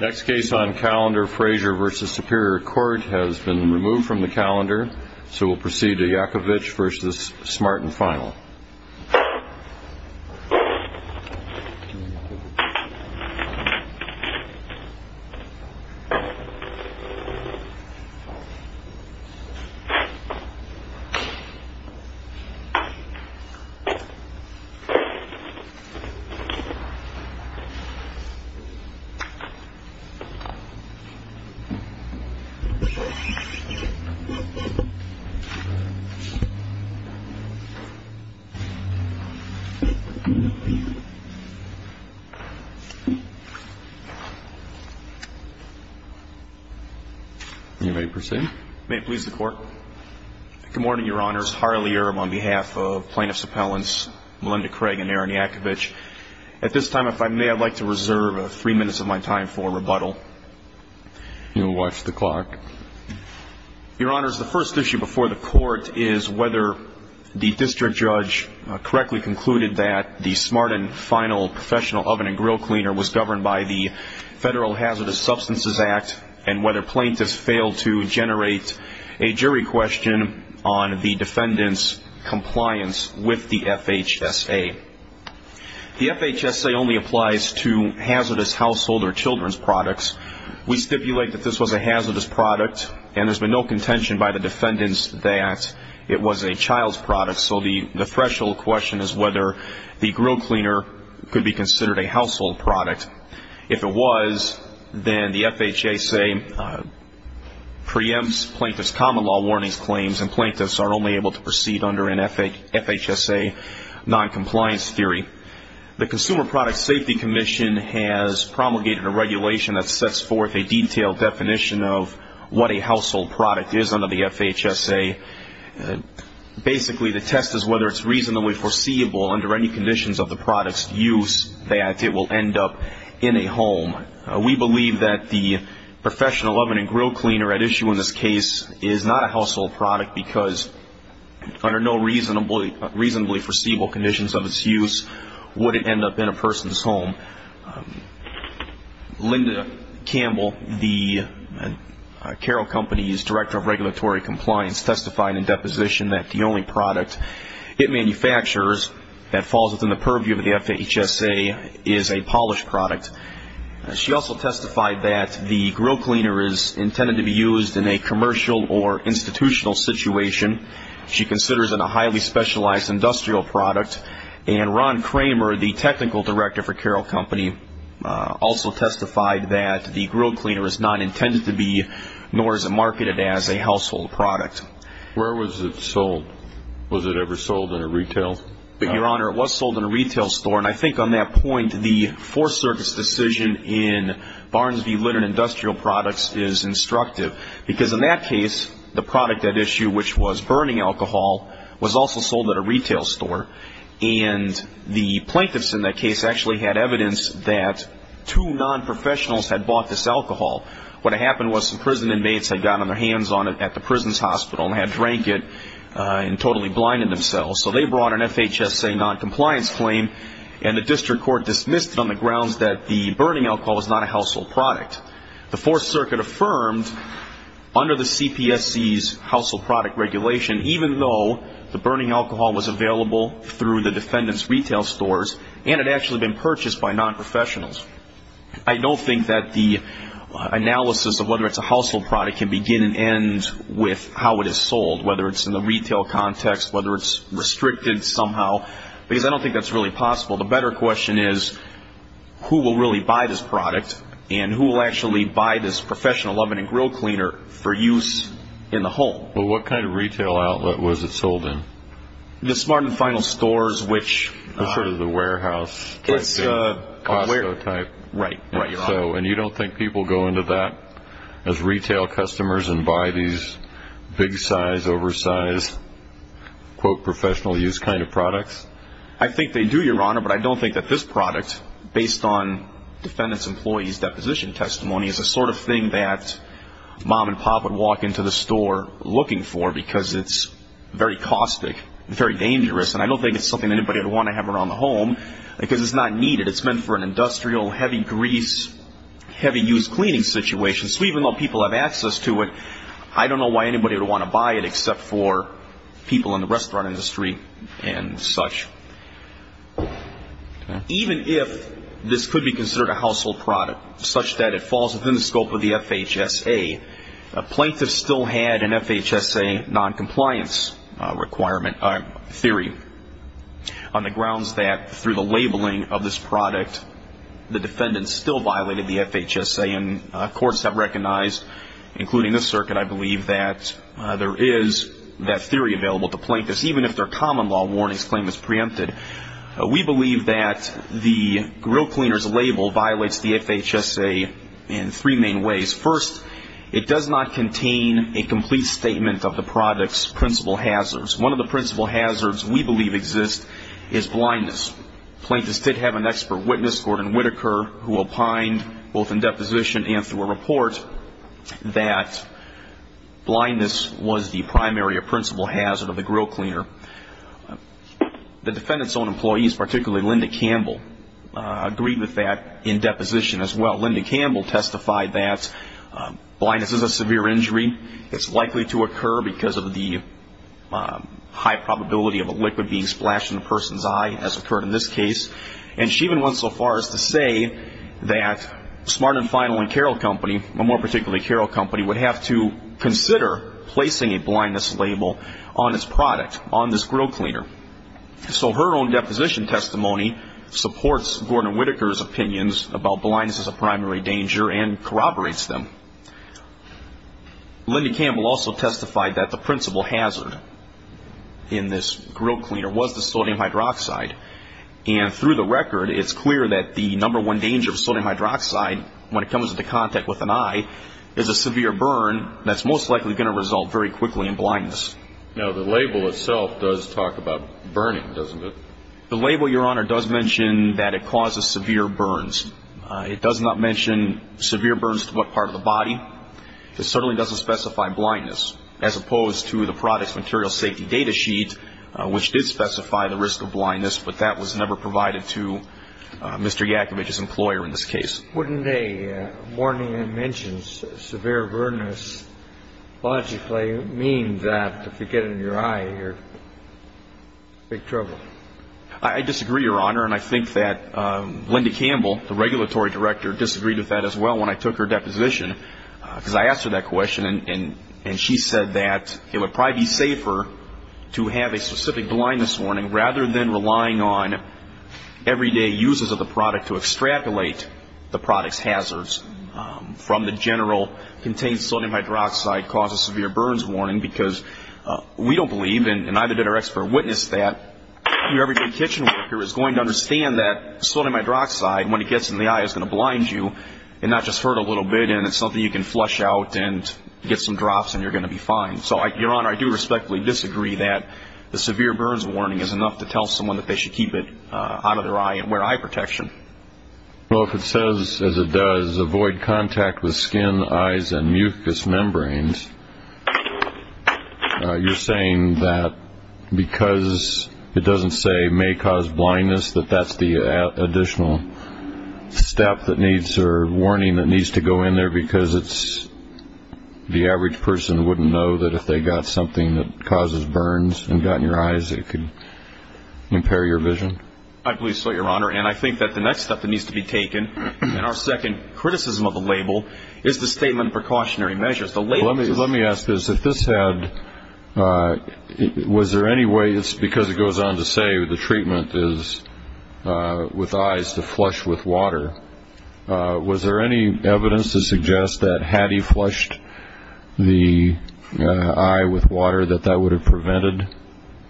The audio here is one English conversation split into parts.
Next case on calendar, Frazier v. Superior Court, has been removed from the calendar, so we'll proceed to Yakovich v. Smart & Final. May it please the Court. Good morning, Your Honors. Harley Earhm on behalf of Plaintiffs' Appellants Melinda Craig and Aaron Yakovich. At this time, if I may, I'd like to reserve three minutes of my time for rebuttal. You'll watch the clock. Your Honors, the first issue before the Court is whether the District Judge correctly concluded that the Smart & Final professional oven and grill cleaner was governed by the Federal Hazardous Substances Act, and whether plaintiffs failed to generate a jury question on the defendant's compliance with the FHSA. The FHSA only applies to hazardous household or children's products. We stipulate that this was a hazardous product, and there's been no contention by the defendants that it was a child's product. So the threshold question is whether the grill cleaner could be considered a household product. If it was, then the FHSA preempts plaintiff's common law warnings claims, and plaintiffs are only able to proceed under an FHSA noncompliance theory. The Consumer Product Safety Commission has promulgated a regulation that sets forth a detailed definition of what a household product is under the FHSA. Basically, the test is whether it's reasonably foreseeable under any conditions of the product's use that it will end up in a home. We believe that the professional oven and grill cleaner at issue in this case is not a household product because under no reasonably foreseeable conditions of its use would it end up in a person's home. Linda Campbell, the Carroll Company's Director of Regulatory Compliance, testified in deposition that the only product it manufactures that falls within the purview of the FHSA is a polished product. She also testified that the grill cleaner is intended to be used in a commercial or institutional situation. She considers it a highly specialized industrial product. And Ron Kramer, the Technical Director for Carroll Company, also testified that the grill cleaner is not intended to be nor is it marketed as a household product. Where was it sold? Was it ever sold in a retail? Your Honor, it was sold in a retail store, and I think on that point the Fourth Circuit's decision in Barnes v. Litter and Industrial Products is instructive because in that case the product at issue, which was burning alcohol, was also sold at a retail store. And the plaintiffs in that case actually had evidence that two non-professionals had bought this alcohol. What had happened was some prison inmates had gotten their hands on it at the prison's hospital and had drank it and totally blinded themselves. So they brought an FHSA noncompliance claim, and the district court dismissed it on the grounds that the burning alcohol was not a household product. The Fourth Circuit affirmed under the CPSC's household product regulation, even though the burning alcohol was available through the defendant's retail stores and had actually been purchased by non-professionals. I don't think that the analysis of whether it's a household product can begin and end with how it is sold, whether it's in the retail context, whether it's restricted somehow, because I don't think that's really possible. The better question is who will really buy this product, and who will actually buy this professional oven and grill cleaner for use in the home? Well, what kind of retail outlet was it sold in? The Smart and Final Stores, which... Sort of the warehouse type thing, Costco type. Right, right, Your Honor. And you don't think people go into that as retail customers and buy these big size, oversized, quote, professional use kind of products? I think they do, Your Honor, but I don't think that this product, based on defendant's employees' deposition testimony, is the sort of thing that mom and pop would walk into the store looking for because it's very caustic, very dangerous, and I don't think it's something anybody would want to have around the home because it's not needed. It's meant for an industrial, heavy grease, heavy use cleaning situation, so even though people have access to it, I don't know why anybody would want to buy it except for people in the restaurant industry and such. Even if this could be considered a household product, such that it falls within the scope of the FHSA, plaintiffs still had an FHSA noncompliance theory on the grounds that through the labeling of this product, the defendant still violated the FHSA, and courts have recognized, including this circuit, I believe that there is that theory available to plaintiffs, even if their common law warnings claim is preempted. We believe that the grill cleaner's label violates the FHSA in three main ways. First, it does not contain a complete statement of the product's principal hazards. One of the principal hazards we believe exists is blindness. Plaintiffs did have an expert witness, Gordon Whittaker, who opined, both in deposition and through a report, that blindness was the primary or principal hazard of the grill cleaner. The defendant's own employees, particularly Linda Campbell, agreed with that in deposition as well. Linda Campbell testified that blindness is a severe injury. It's likely to occur because of the high probability of a liquid being splashed in a person's eye, as occurred in this case. And she even went so far as to say that Smart and Final and Carroll Company, but more particularly Carroll Company, would have to consider placing a blindness label on its product, on this grill cleaner. So her own deposition testimony supports Gordon Whittaker's opinions about blindness as a primary danger and corroborates them. Linda Campbell also testified that the principal hazard in this grill cleaner was the sodium hydroxide. And through the record, it's clear that the number one danger of sodium hydroxide, when it comes into contact with an eye, is a severe burn that's most likely going to result very quickly in blindness. Now, the label itself does talk about burning, doesn't it? The label, Your Honor, does mention that it causes severe burns. It does not mention severe burns to what part of the body. It certainly doesn't specify blindness, as opposed to the product's material safety data sheet, which did specify the risk of blindness, but that was never provided to Mr. Yakovich's employer in this case. Wouldn't a warning that mentions severe burns logically mean that if you get it in your eye, you're in big trouble? I disagree, Your Honor, and I think that Linda Campbell, the regulatory director, disagreed with that as well when I took her deposition, because I asked her that question and she said that it would probably be safer to have a specific blindness warning rather than relying on everyday uses of the product to extrapolate the product's hazards from the general contained sodium hydroxide causes severe burns warning, because we don't believe, and neither did our expert witness, that your everyday kitchen worker is going to understand that sodium hydroxide, when it gets in the eye, is going to blind you and not just hurt a little bit, and it's something you can flush out and get some drops and you're going to be fine. So, Your Honor, I do respectfully disagree that the severe burns warning is enough to tell someone that they should keep it out of their eye and wear eye protection. Well, if it says, as it does, avoid contact with skin, eyes, and mucous membranes, you're saying that because it doesn't say may cause blindness, that that's the additional step that needs, or warning that needs to go in there because it's, the average person wouldn't know that if they got something that causes burns and got in your eyes, it could impair your vision? I believe so, Your Honor, and I think that the next step that needs to be taken, and our second criticism of the label, is the statement precautionary measures. Let me ask this, if this had, was there any way, because it goes on to say the treatment is with eyes to flush with water, was there any evidence to suggest that had he flushed the eye with water that that would have prevented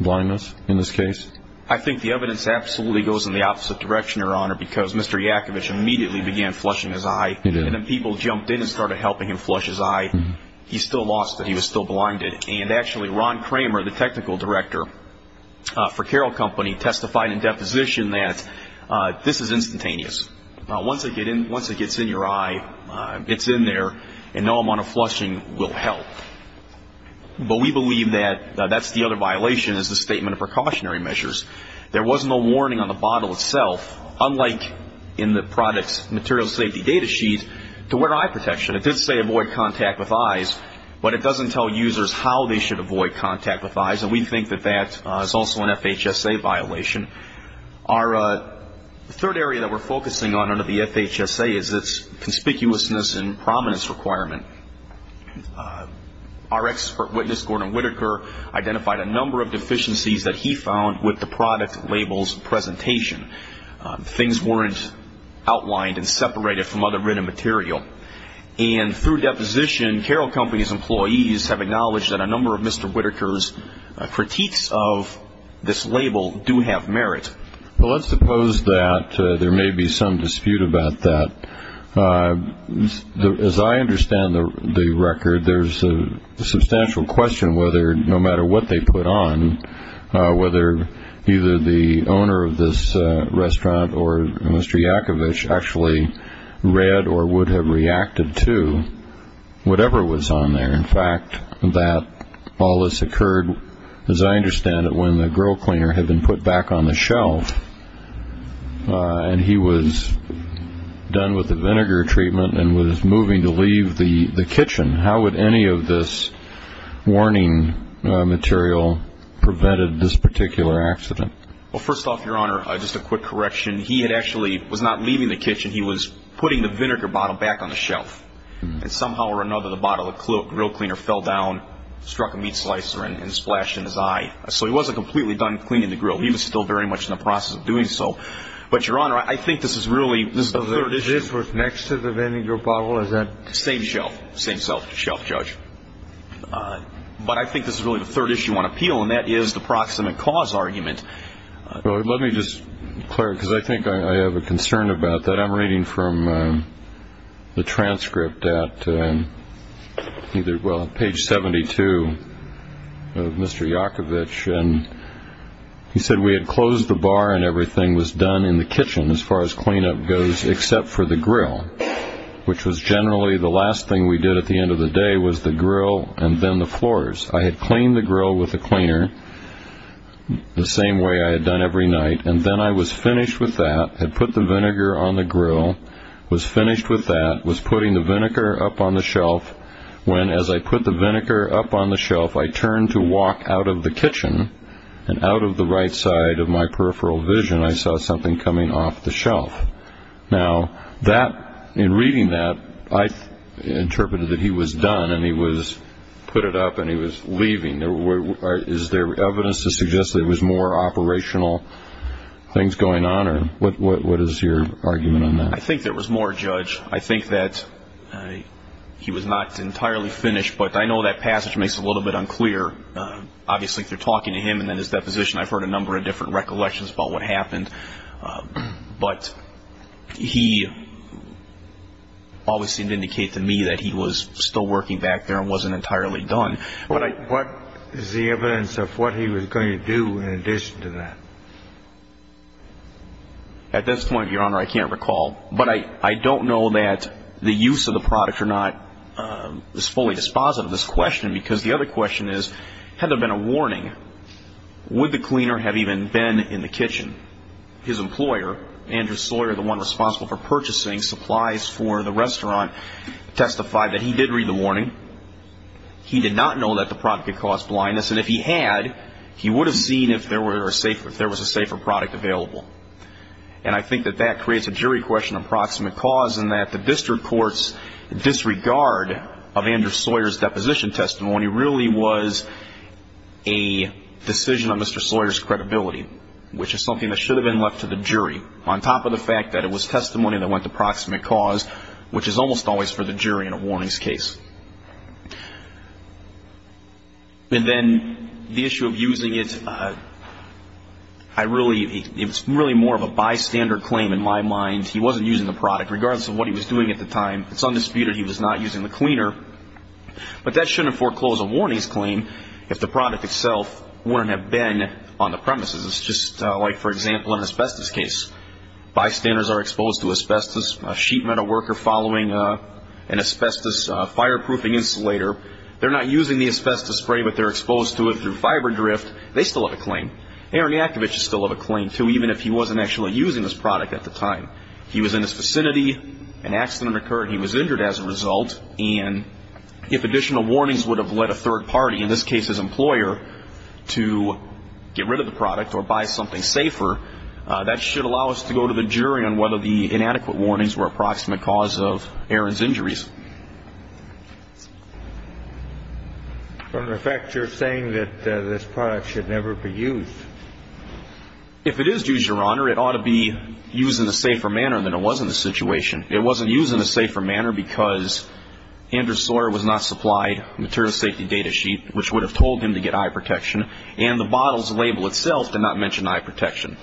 blindness in this case? I think the evidence absolutely goes in the opposite direction, Your Honor, because Mr. Yakovitch immediately began flushing his eye and then people jumped in and started helping him flush his eye. He still lost it, he was still blinded, and actually Ron Kramer, the technical director for Carroll Company, testified in deposition that this is instantaneous. Once it gets in your eye, it's in there, and no amount of flushing will help. But we believe that that's the other violation, is the statement of precautionary measures. There was no warning on the bottle itself, unlike in the product's material safety data sheet, to wear eye protection. It did say avoid contact with eyes, but it doesn't tell users how they should avoid contact with eyes, and we think that that is also an FHSA violation. The third area that we're focusing on under the FHSA is its conspicuousness and prominence requirement. Our expert witness, Gordon Whitaker, identified a number of deficiencies that he found with the product label's presentation. Things weren't outlined and separated from other written material. And through deposition, Carroll Company's employees have acknowledged that a number of Mr. Whitaker's critiques of this label do have merit. Well, let's suppose that there may be some dispute about that. As I understand the record, there's a substantial question whether, no matter what they put on, whether either the owner of this restaurant or Mr. Yakovitch actually read or would have reacted to whatever was on there. In fact, that all this occurred, as I understand it, when the grill cleaner had been put back on the shelf and he was done with the vinegar treatment and was moving to leave the kitchen. How would any of this warning material prevent this particular accident? Well, first off, Your Honor, just a quick correction. He actually was not leaving the kitchen. He was putting the vinegar bottle back on the shelf. And somehow or another, the bottle of the grill cleaner fell down, struck a meat slicer, and splashed in his eye. So he wasn't completely done cleaning the grill. He was still very much in the process of doing so. But, Your Honor, I think this is really the third issue. This was next to the vinegar bottle? Same shelf. Same shelf, Judge. But I think this is really the third issue on appeal, and that is the proximate cause argument. Let me just, Clare, because I think I have a concern about that. I'm reading from the transcript at page 72 of Mr. Yakovitch. And he said we had closed the bar and everything was done in the kitchen, as far as cleanup goes, except for the grill, which was generally the last thing we did at the end of the day was the grill and then the floors. I had cleaned the grill with a cleaner the same way I had done every night. And then I was finished with that, had put the vinegar on the grill, was finished with that, was putting the vinegar up on the shelf when, as I put the vinegar up on the shelf, I turned to walk out of the kitchen, and out of the right side of my peripheral vision, I saw something coming off the shelf. Now, in reading that, I interpreted that he was done and he was put it up and he was leaving. Is there evidence to suggest there was more operational things going on, or what is your argument on that? I think there was more, Judge. I think that he was not entirely finished, but I know that passage makes it a little bit unclear. Obviously, if you're talking to him and then his deposition, I've heard a number of different recollections about what happened. But he obviously didn't indicate to me that he was still working back there and wasn't entirely done. What is the evidence of what he was going to do in addition to that? At this point, Your Honor, I can't recall. But I don't know that the use of the product or not is fully dispositive of this question, because the other question is, had there been a warning, would the cleaner have even been in the kitchen? His employer, Andrew Sawyer, the one responsible for purchasing supplies for the restaurant, testified that he did read the warning. He did not know that the product could cause blindness, and if he had, he would have seen if there was a safer product available. And I think that that creates a jury question of proximate cause in that the district court's disregard of Andrew Sawyer's deposition testimony really was a decision of Mr. Sawyer's credibility, which is something that should have been left to the jury, on top of the fact that it was testimony that went to proximate cause, which is almost always for the jury in a warnings case. And then the issue of using it, it's really more of a bystander claim in my mind. He wasn't using the product, regardless of what he was doing at the time. It's undisputed he was not using the cleaner. But that shouldn't foreclose a warnings claim if the product itself wouldn't have been on the premises. It's just like, for example, an asbestos case. Bystanders are exposed to asbestos. A sheet metal worker following an asbestos fireproofing insulator. They're not using the asbestos spray, but they're exposed to it through fiber drift. They still have a claim. Aaron Yakovich would still have a claim, too, even if he wasn't actually using this product at the time. He was in his vicinity. An accident occurred. He was injured as a result. And if additional warnings would have led a third party, in this case his employer, to get rid of the product or buy something safer, that should allow us to go to the jury on whether the inadequate warnings were a proximate cause of Aaron's injuries. Your Honor, in fact, you're saying that this product should never be used. If it is used, Your Honor, it ought to be used in a safer manner than it was in this situation. It wasn't used in a safer manner because Andrew Sawyer was not supplied a material safety data sheet, which would have told him to get eye protection, and the bottle's label itself did not mention eye protection.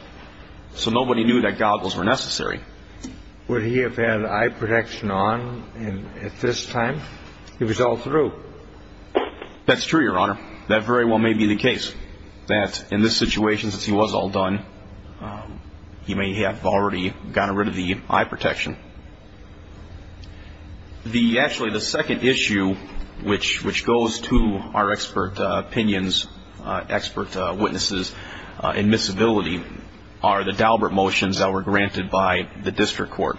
So nobody knew that goggles were necessary. Would he have had eye protection on at this time? He was all through. That's true, Your Honor. That very well may be the case, that in this situation, since he was all done, he may have already gotten rid of the eye protection. Actually, the second issue, which goes to our expert opinions, expert witnesses, admissibility, are the Daubert motions that were granted by the district court.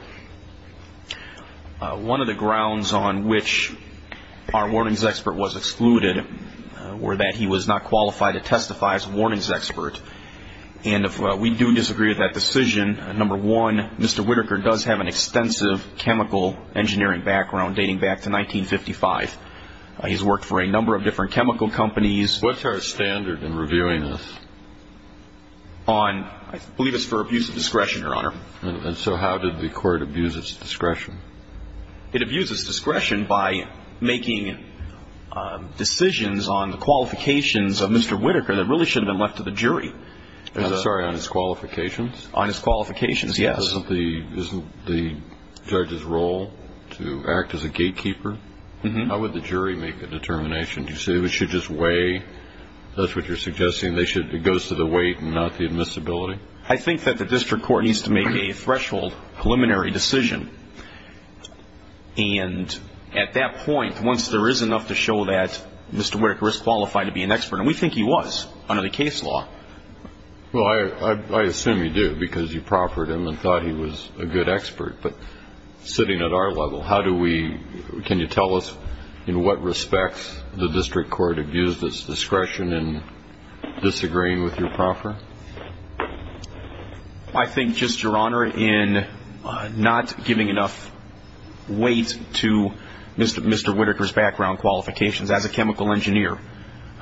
One of the grounds on which our warnings expert was excluded were that he was not qualified to testify as a warnings expert. And if we do disagree with that decision, number one, Mr. Whitaker does have an extensive chemical engineering background dating back to 1955. He's worked for a number of different chemical companies. What's our standard in reviewing this? I believe it's for abuse of discretion, Your Honor. And so how did the court abuse its discretion? It abuses discretion by making decisions on the qualifications of Mr. Whitaker that really should have been left to the jury. I'm sorry, on his qualifications? On his qualifications, yes. Isn't the judge's role to act as a gatekeeper? How would the jury make a determination? Do you say they should just weigh, that's what you're suggesting, it goes to the weight and not the admissibility? I think that the district court needs to make a threshold preliminary decision. And at that point, once there is enough to show that Mr. Whitaker is qualified to be an expert, and we think he was under the case law. Well, I assume you do because you proffered him and thought he was a good expert. But sitting at our level, can you tell us in what respects the district court abused its discretion in disagreeing with your proffer? I think just, Your Honor, in not giving enough weight to Mr. Whitaker's background qualifications as a chemical engineer.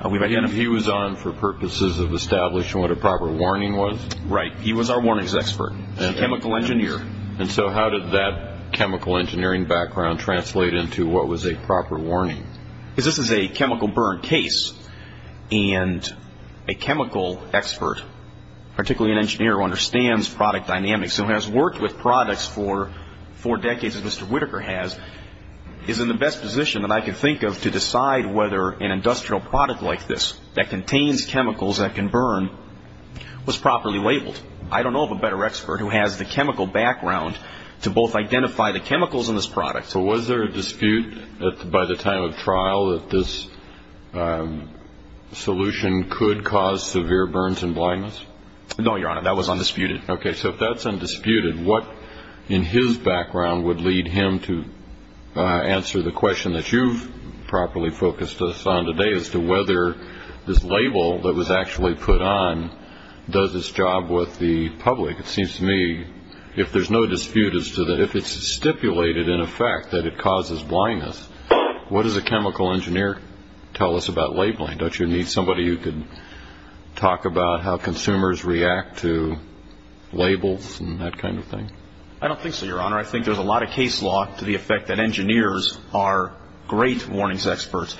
He was on for purposes of establishing what a proper warning was? Right. He was our warnings expert. He was a chemical engineer. And so how did that chemical engineering background translate into what was a proper warning? Because this is a chemical burn case, and a chemical expert, particularly an engineer who understands product dynamics, who has worked with products for four decades as Mr. Whitaker has, is in the best position that I can think of to decide whether an industrial product like this, that contains chemicals that can burn, was properly labeled. I don't know of a better expert who has the chemical background to both identify the chemicals in this product. So was there a dispute by the time of trial that this solution could cause severe burns and blindness? No, Your Honor. That was undisputed. Okay. So if that's undisputed, what in his background would lead him to answer the question that you've properly focused us on today as to whether this label that was actually put on does its job with the public? It seems to me, if there's no dispute as to that, if it's stipulated in effect that it causes blindness, what does a chemical engineer tell us about labeling? Don't you need somebody who could talk about how consumers react to labels and that kind of thing? I don't think so, Your Honor. I think there's a lot of case law to the effect that engineers are great warnings experts,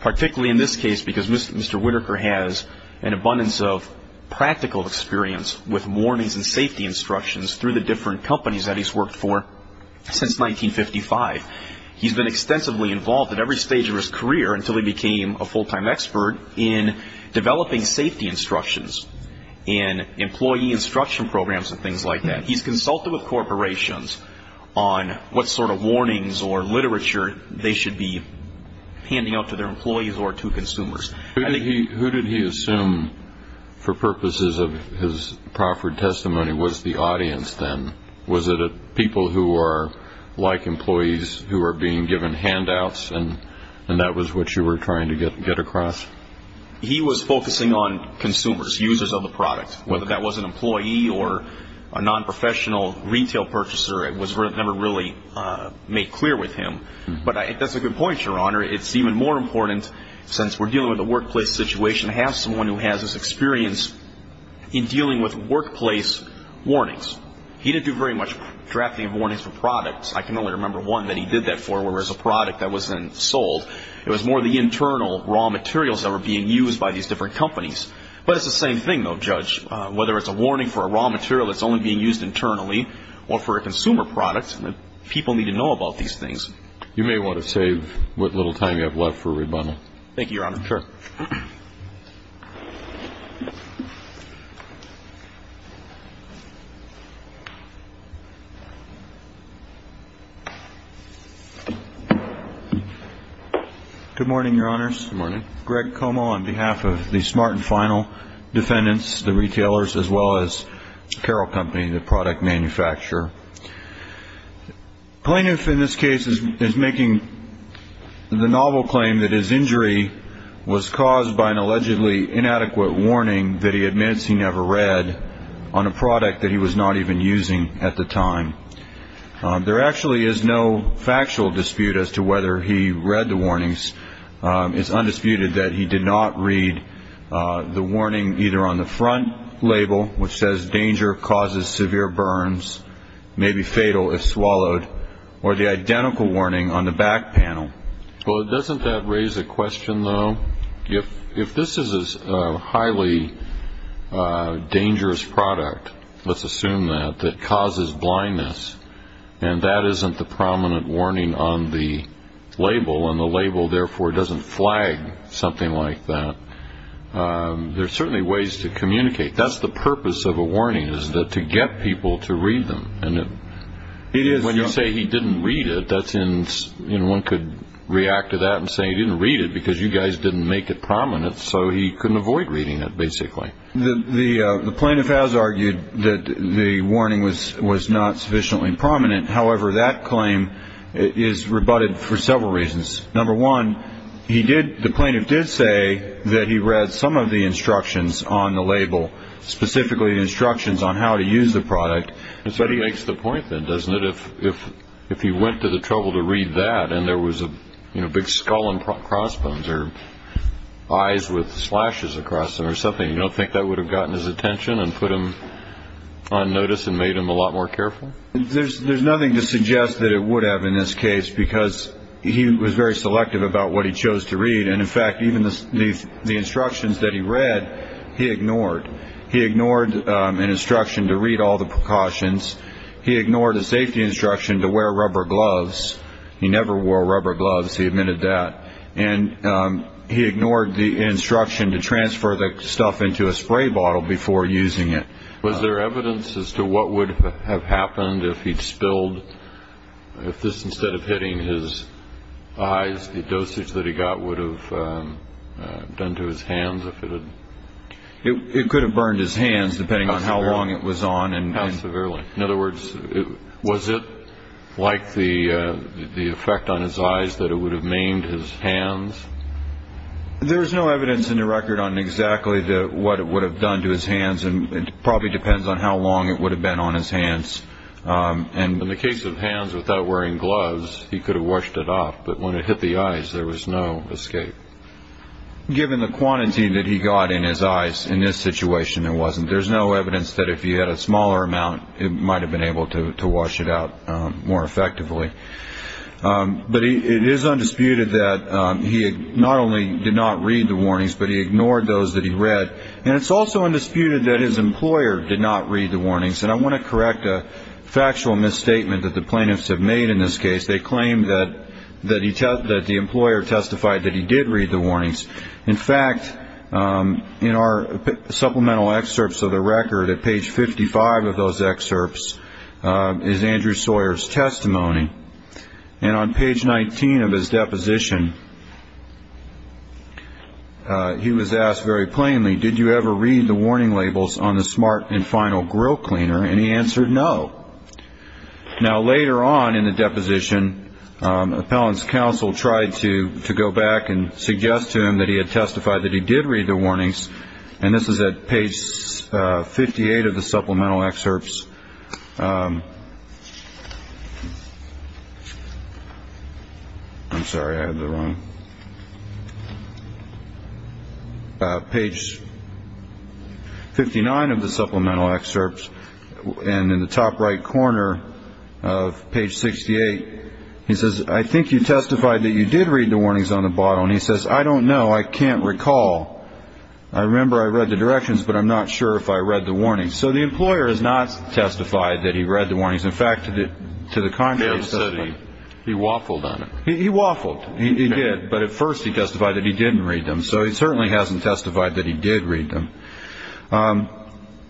particularly in this case because Mr. Whitaker has an abundance of practical experience with warnings and safety instructions through the different companies that he's worked for since 1955. He's been extensively involved at every stage of his career until he became a full-time expert in developing safety instructions and employee instruction programs and things like that. He's consulted with corporations on what sort of warnings or literature they should be handing out to their employees or to consumers. Who did he assume, for purposes of his Crawford testimony, was the audience then? Was it people who are like employees who are being given handouts and that was what you were trying to get across? He was focusing on consumers, users of the product. Whether that was an employee or a nonprofessional retail purchaser, it was never really made clear with him. But that's a good point, Your Honor. It's even more important, since we're dealing with a workplace situation, to have someone who has this experience in dealing with workplace warnings. He didn't do very much drafting of warnings for products. I can only remember one that he did that for, whereas a product that was then sold, it was more the internal raw materials that were being used by these different companies. But it's the same thing, though, Judge. Whether it's a warning for a raw material that's only being used internally or for a consumer product, people need to know about these things. You may want to save what little time you have left for rebuttal. Thank you, Your Honor. Sure. Good morning, Your Honors. Good morning. Greg Como on behalf of the smart and final defendants, the retailers, as well as Carroll Company, the product manufacturer. Plaintiff in this case is making the novel claim that his injury was caused by an allegedly inadequate warning that he admits he never read on a product that he was not even using at the time. There actually is no factual dispute as to whether he read the warnings. It's undisputed that he did not read the warning either on the front label, which says danger causes severe burns, may be fatal if swallowed, or the identical warning on the back panel. Well, doesn't that raise a question, though? If this is a highly dangerous product, let's assume that, that causes blindness, and that isn't the prominent warning on the label, and the label, therefore, doesn't flag something like that, there are certainly ways to communicate. That's the purpose of a warning is to get people to read them. It is. When you say he didn't read it, one could react to that and say he didn't read it because you guys didn't make it prominent, so he couldn't avoid reading it, basically. The plaintiff has argued that the warning was not sufficiently prominent. However, that claim is rebutted for several reasons. Number one, the plaintiff did say that he read some of the instructions on the label, So he makes the point, then, doesn't it, if he went to the trouble to read that and there was a big skull and crossbones or eyes with slashes across them or something, you don't think that would have gotten his attention and put him on notice and made him a lot more careful? There's nothing to suggest that it would have in this case because he was very selective about what he chose to read, and, in fact, even the instructions that he read, he ignored. He ignored an instruction to read all the precautions. He ignored a safety instruction to wear rubber gloves. He never wore rubber gloves. He admitted that. And he ignored the instruction to transfer the stuff into a spray bottle before using it. Was there evidence as to what would have happened if he'd spilled, if this, instead of hitting his eyes, the dosage that he got would have been to his hands? It could have burned his hands, depending on how long it was on. How severely? In other words, was it like the effect on his eyes that it would have maimed his hands? There's no evidence in the record on exactly what it would have done to his hands, and it probably depends on how long it would have been on his hands. In the case of hands without wearing gloves, he could have washed it off, but when it hit the eyes, there was no escape. Given the quantity that he got in his eyes in this situation, there wasn't. There's no evidence that if he had a smaller amount, it might have been able to wash it out more effectively. But it is undisputed that he not only did not read the warnings, but he ignored those that he read. And it's also undisputed that his employer did not read the warnings. And I want to correct a factual misstatement that the plaintiffs have made in this case. They claim that the employer testified that he did read the warnings. In fact, in our supplemental excerpts of the record, at page 55 of those excerpts, is Andrew Sawyer's testimony. And on page 19 of his deposition, he was asked very plainly, did you ever read the warning labels on the smart and final grill cleaner? And he answered no. Now, later on in the deposition, appellant's counsel tried to go back and suggest to him that he had testified that he did read the warnings. And this is at page 58 of the supplemental excerpts. I'm sorry, I have the wrong. Page 59 of the supplemental excerpts. And in the top right corner of page 68, he says, I think you testified that you did read the warnings on the bottle. And he says, I don't know. I can't recall. I remember I read the directions, but I'm not sure if I read the warnings. So the employer has not testified that he read the warnings. In fact, to the contrary. He waffled on it. He waffled. He did. But at first he testified that he didn't read them. So he certainly hasn't testified that he did read them.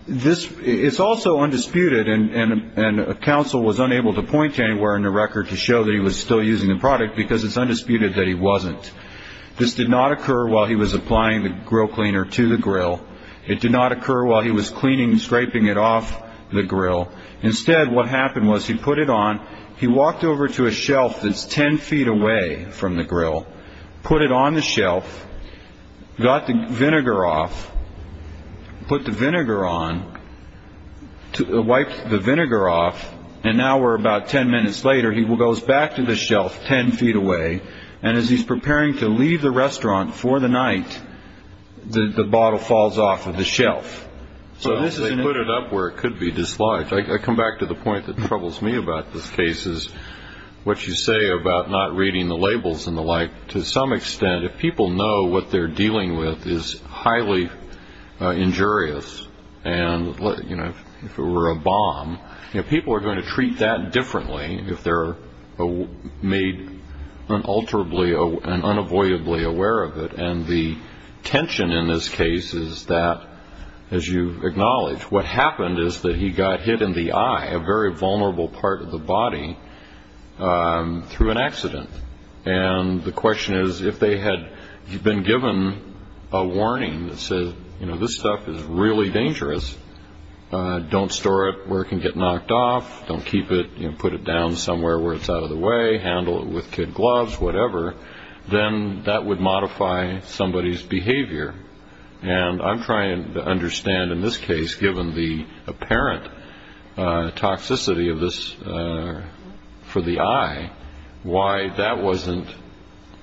This is also undisputed. And counsel was unable to point to anywhere in the record to show that he was still using the product because it's undisputed that he wasn't. This did not occur while he was applying the grill cleaner to the grill. It did not occur while he was cleaning, scraping it off the grill. Instead, what happened was he put it on. He walked over to a shelf that's 10 feet away from the grill, put it on the shelf, got the vinegar off, put the vinegar on, wiped the vinegar off. And now we're about 10 minutes later. He goes back to the shelf 10 feet away. And as he's preparing to leave the restaurant for the night, the bottle falls off of the shelf. So they put it up where it could be dislodged. I come back to the point that troubles me about this case is what you say about not reading the labels and the like. To some extent, if people know what they're dealing with is highly injurious, and if it were a bomb, people are going to treat that differently if they're made unalterably and unavoidably aware of it. And the tension in this case is that, as you acknowledge, what happened is that he got hit in the eye, a very vulnerable part of the body, through an accident. And the question is, if they had been given a warning that says, you know, this stuff is really dangerous, don't store it where it can get knocked off, don't keep it, you know, put it down somewhere where it's out of the way, handle it with kid gloves, whatever, then that would modify somebody's behavior. And I'm trying to understand, in this case, given the apparent toxicity of this for the eye, why that wasn't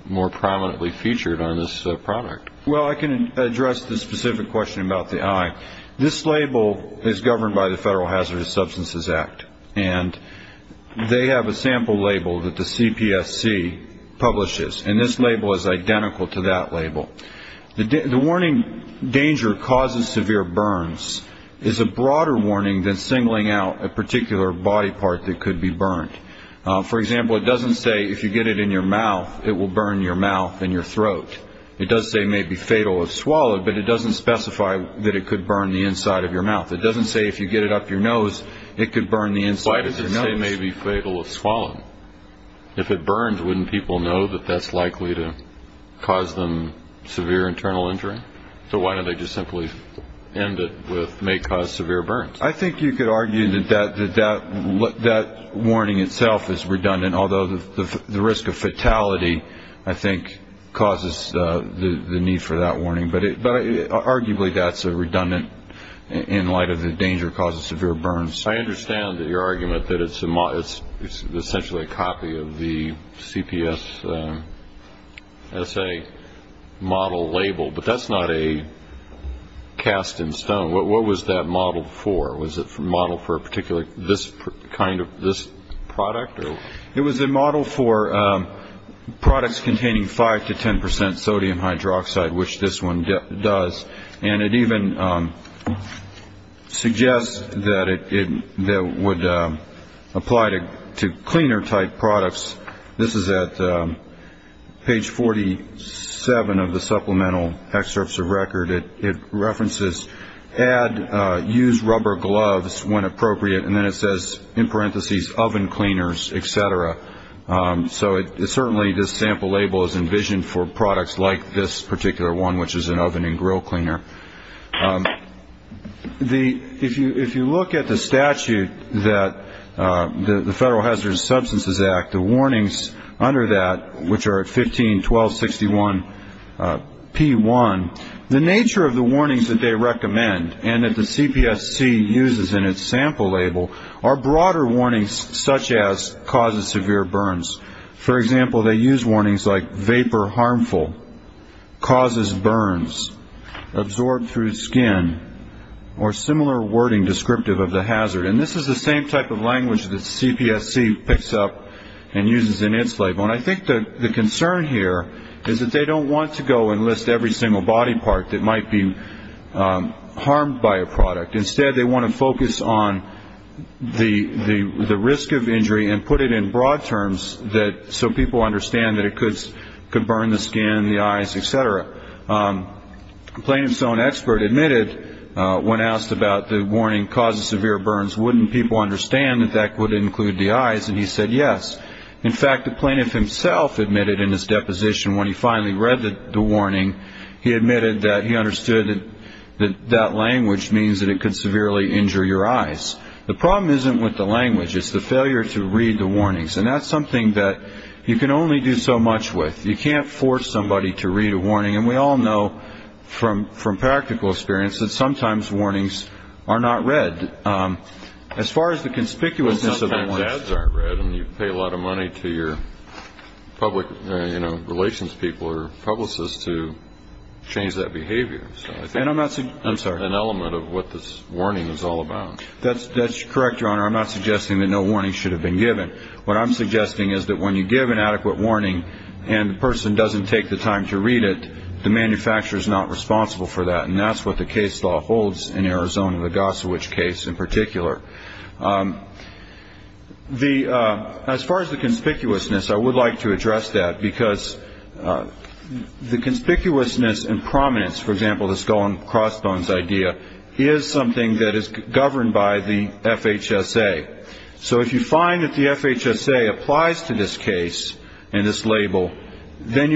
more prominently featured on this product. Well, I can address the specific question about the eye. This label is governed by the Federal Hazardous Substances Act, and they have a sample label that the CPSC publishes, and this label is identical to that label. The warning, danger causes severe burns, is a broader warning than singling out a particular body part that could be burned. For example, it doesn't say if you get it in your mouth, it will burn your mouth and your throat. It does say may be fatal if swallowed, but it doesn't specify that it could burn the inside of your mouth. It doesn't say if you get it up your nose, it could burn the inside of your nose. If it burns, wouldn't people know that that's likely to cause them severe internal injury? So why don't they just simply end it with may cause severe burns? I think you could argue that that warning itself is redundant, although the risk of fatality, I think, causes the need for that warning. But arguably, that's a redundant, in light of the danger causes severe burns. I understand your argument that it's essentially a copy of the CPSSA model label, but that's not a cast in stone. What was that model for? Was it a model for a particular kind of this product? It was a model for products containing 5 to 10 percent sodium hydroxide, which this one does, and it even suggests that it would apply to cleaner type products. This is at page 47 of the supplemental excerpts of record. It references add, use rubber gloves when appropriate, and then it says, in parentheses, oven cleaners, et cetera. So certainly this sample label is envisioned for products like this particular one, which is an oven and grill cleaner. If you look at the statute that the Federal Hazardous Substances Act, the warnings under that, which are at 15, 12, 61, P1, the nature of the warnings that they recommend and that the CPSC uses in its sample label are broader warnings such as causes severe burns. For example, they use warnings like vapor harmful, causes burns, absorbed through skin, or similar wording descriptive of the hazard. And this is the same type of language that CPSC picks up and uses in its label. And I think the concern here is that they don't want to go and list every single body part that might be harmed by a product. Instead, they want to focus on the risk of injury and put it in broad terms so people understand that it could burn the skin, the eyes, et cetera. The plaintiff's own expert admitted when asked about the warning causes severe burns, wouldn't people understand that that would include the eyes, and he said yes. In fact, the plaintiff himself admitted in his deposition when he finally read the warning, he admitted that he understood that that language means that it could severely injure your eyes. The problem isn't with the language. It's the failure to read the warnings, and that's something that you can only do so much with. You can't force somebody to read a warning, and we all know from practical experience that sometimes warnings are not read. As far as the conspicuousness of the warning. You pay a lot of money to your public relations people or publicists to change that behavior. I'm sorry. An element of what this warning is all about. That's correct, Your Honor. I'm not suggesting that no warning should have been given. What I'm suggesting is that when you give an adequate warning and the person doesn't take the time to read it, the manufacturer is not responsible for that, and that's what the case law holds in Arizona, the Gossowich case in particular. As far as the conspicuousness, I would like to address that, because the conspicuousness and prominence, for example, this going crossbones idea, is something that is governed by the FHSA. So if you find that the FHSA applies to this case and this label, then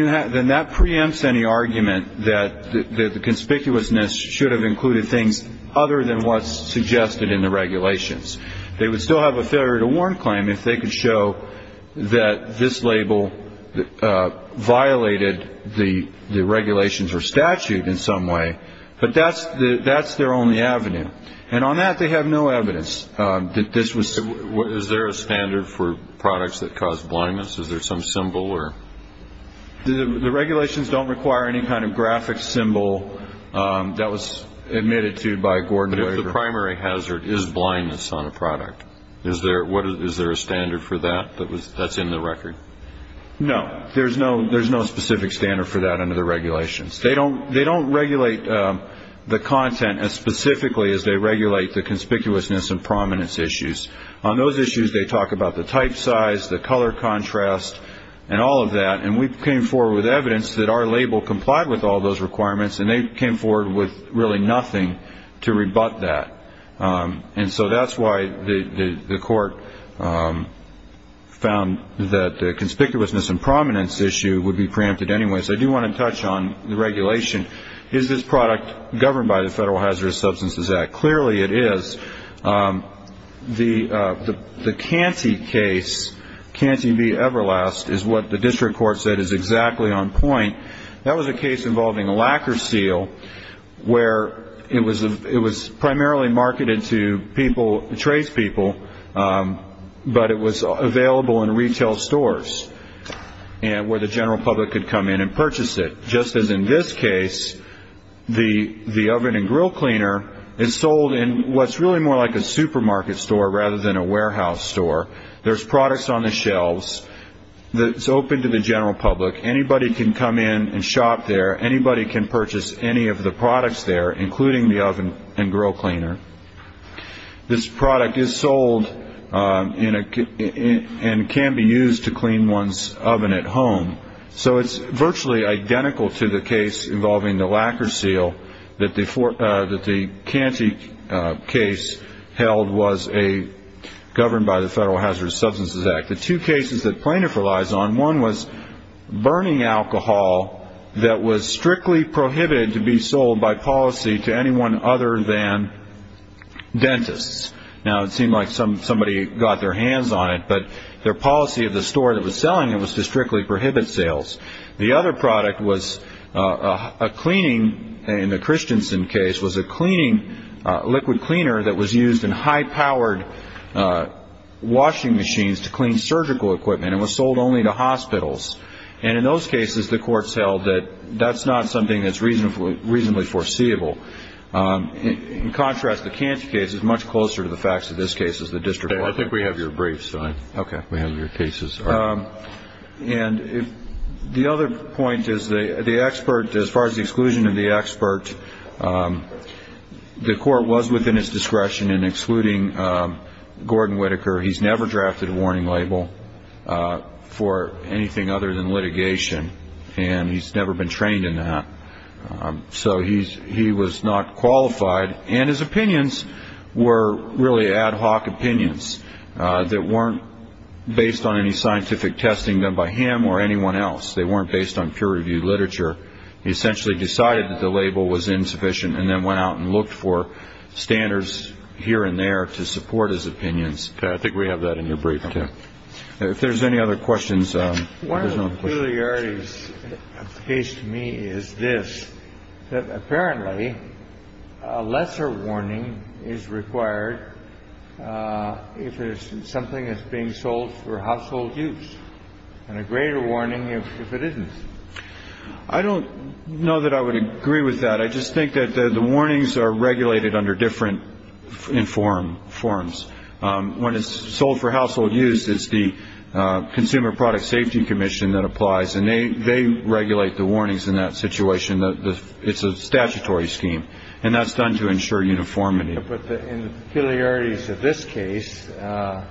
that preempts any argument that the conspicuousness should have included things other than what's suggested in the regulations. They would still have a failure to warn claim if they could show that this label violated the regulations or statute in some way, but that's their only avenue. And on that they have no evidence that this was. Is there a standard for products that cause blindness? Is there some symbol? The regulations don't require any kind of graphic symbol that was admitted to by Gordon Waver. But if the primary hazard is blindness on a product, is there a standard for that that's in the record? No, there's no specific standard for that under the regulations. They don't regulate the content as specifically as they regulate the conspicuousness and prominence issues. On those issues they talk about the type size, the color contrast, and all of that. And we came forward with evidence that our label complied with all those requirements, and they came forward with really nothing to rebut that. And so that's why the court found that the conspicuousness and prominence issue would be preempted anyway. So I do want to touch on the regulation. Is this product governed by the Federal Hazardous Substances Act? Clearly it is. The Canty case, Canty v. Everlast, is what the district court said is exactly on point. That was a case involving a lacquer seal where it was primarily marketed to people, tradespeople, but it was available in retail stores where the general public could come in and purchase it. Just as in this case, the oven and grill cleaner is sold in what's really more like a supermarket store rather than a warehouse store. There's products on the shelves that's open to the general public. Anybody can come in and shop there. Anybody can purchase any of the products there, including the oven and grill cleaner. This product is sold and can be used to clean one's oven at home. So it's virtually identical to the case involving the lacquer seal that the Canty case held was governed by the Federal Hazardous Substances Act. The two cases that plaintiff relies on, one was burning alcohol that was strictly prohibited to be sold by policy to anyone other than dentists. Now it seemed like somebody got their hands on it, but their policy of the store that was selling it was to strictly prohibit sales. The other product was a cleaning, in the Christensen case, was a cleaning liquid cleaner that was used in high-powered washing machines to clean surgical equipment. It was sold only to hospitals. And in those cases, the courts held that that's not something that's reasonably foreseeable. In contrast, the Canty case is much closer to the facts of this case as the district court. I think we have your briefs. We have your cases. And the other point is the expert, as far as the exclusion of the expert, the court was within its discretion in excluding Gordon Whitaker. He's never drafted a warning label for anything other than litigation, and he's never been trained in that. So he's he was not qualified. And his opinions were really ad hoc opinions that weren't based on any scientific testing done by him or anyone else. They weren't based on peer reviewed literature. He essentially decided that the label was insufficient and then went out and looked for standards here and there to support his opinions. I think we have that in your brief. If there's any other questions. One of the peculiarities of the case to me is this. Apparently, a lesser warning is required if there's something that's being sold for household use and a greater warning if it isn't. I don't know that I would agree with that. I just think that the warnings are regulated under different informed forms. When it's sold for household use, it's the Consumer Product Safety Commission that applies and they they regulate the warnings in that situation. It's a statutory scheme and that's done to ensure uniformity. But in the peculiarities of this case, the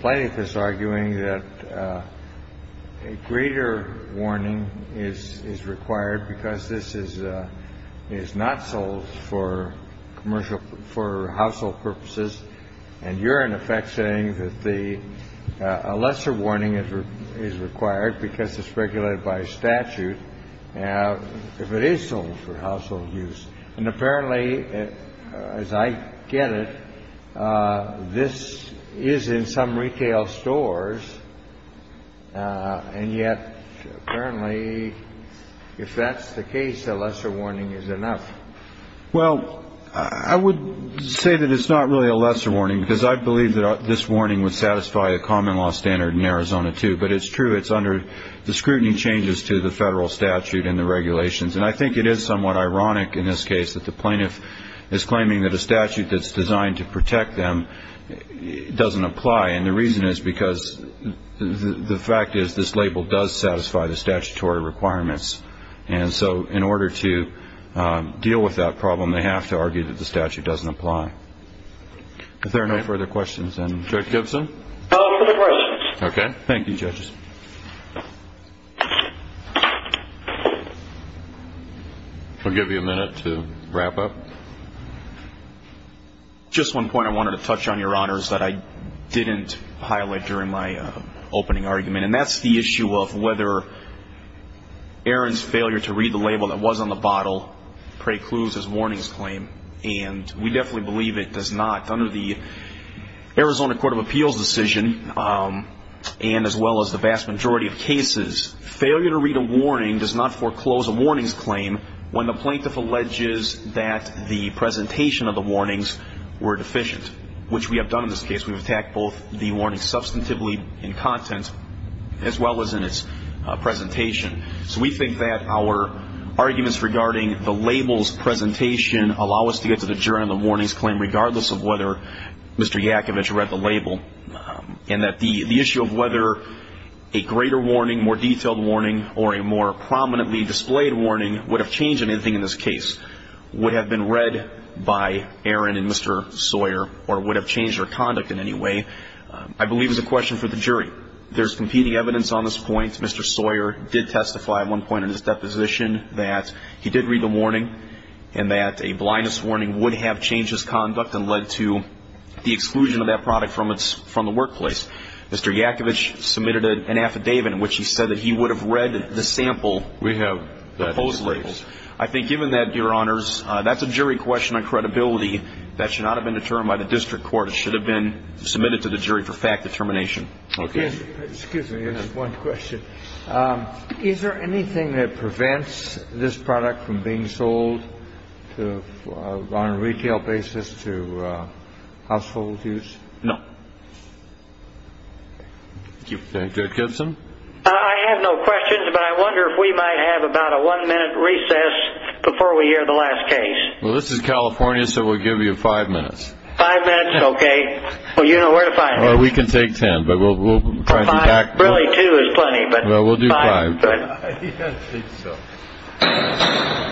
plaintiff is arguing that a greater warning is is required because this is is not sold for commercial, for household purposes. And you're in effect saying that the lesser warning is is required because it's regulated by statute. Now, if it is sold for household use and apparently, as I get it, this is in some retail stores. And yet, apparently, if that's the case, a lesser warning is enough. Well, I would say that it's not really a lesser warning because I believe that this warning would satisfy a common law standard in Arizona, too. But it's true. It's under the scrutiny changes to the federal statute and the regulations. And I think it is somewhat ironic in this case that the plaintiff is claiming that a statute that's designed to protect them doesn't apply. And the reason is because the fact is this label does satisfy the statutory requirements. And so in order to deal with that problem, they have to argue that the statute doesn't apply. If there are no further questions, then. Judge Gibson? No further questions. OK. Thank you, judges. We'll give you a minute to wrap up. Just one point I wanted to touch on, Your Honors, that I didn't highlight during my opening argument. And that's the issue of whether Aaron's failure to read the label that was on the bottle precludes his warnings claim. And we definitely believe it does not. Under the Arizona Court of Appeals decision, and as well as the vast majority of cases, failure to read a warning does not foreclose a warnings claim when the plaintiff alleges that the presentation of the warnings were deficient, which we have done in this case. We've attacked both the warning substantively in content as well as in its presentation. So we think that our arguments regarding the label's presentation allow us to get to the jury on the warnings claim, regardless of whether Mr. Yakovitch read the label. And that the issue of whether a greater warning, more detailed warning, or a more prominently displayed warning would have changed anything in this case, would have been read by Aaron and Mr. Sawyer, or would have changed their conduct in any way, I believe is a question for the jury. There's competing evidence on this point. Mr. Sawyer did testify at one point in his deposition that he did read the warning and that a blindness warning would have changed his conduct and led to the exclusion of that product from the workplace. Mr. Yakovitch submitted an affidavit in which he said that he would have read the sample of hose labels. I think given that, Your Honors, that's a jury question on credibility. That should not have been determined by the district court. It should have been submitted to the jury for fact determination. Excuse me, just one question. Is there anything that prevents this product from being sold on a retail basis to household use? No. Thank you. Judge Gibson? I have no questions, but I wonder if we might have about a one-minute recess before we hear the last case. Well, this is California, so we'll give you five minutes. Five minutes is okay. Well, you don't know where to find me. Well, we can take ten, but we'll try to be tactful. Really, two is plenty, but five is good. Well, we'll do five. I think so.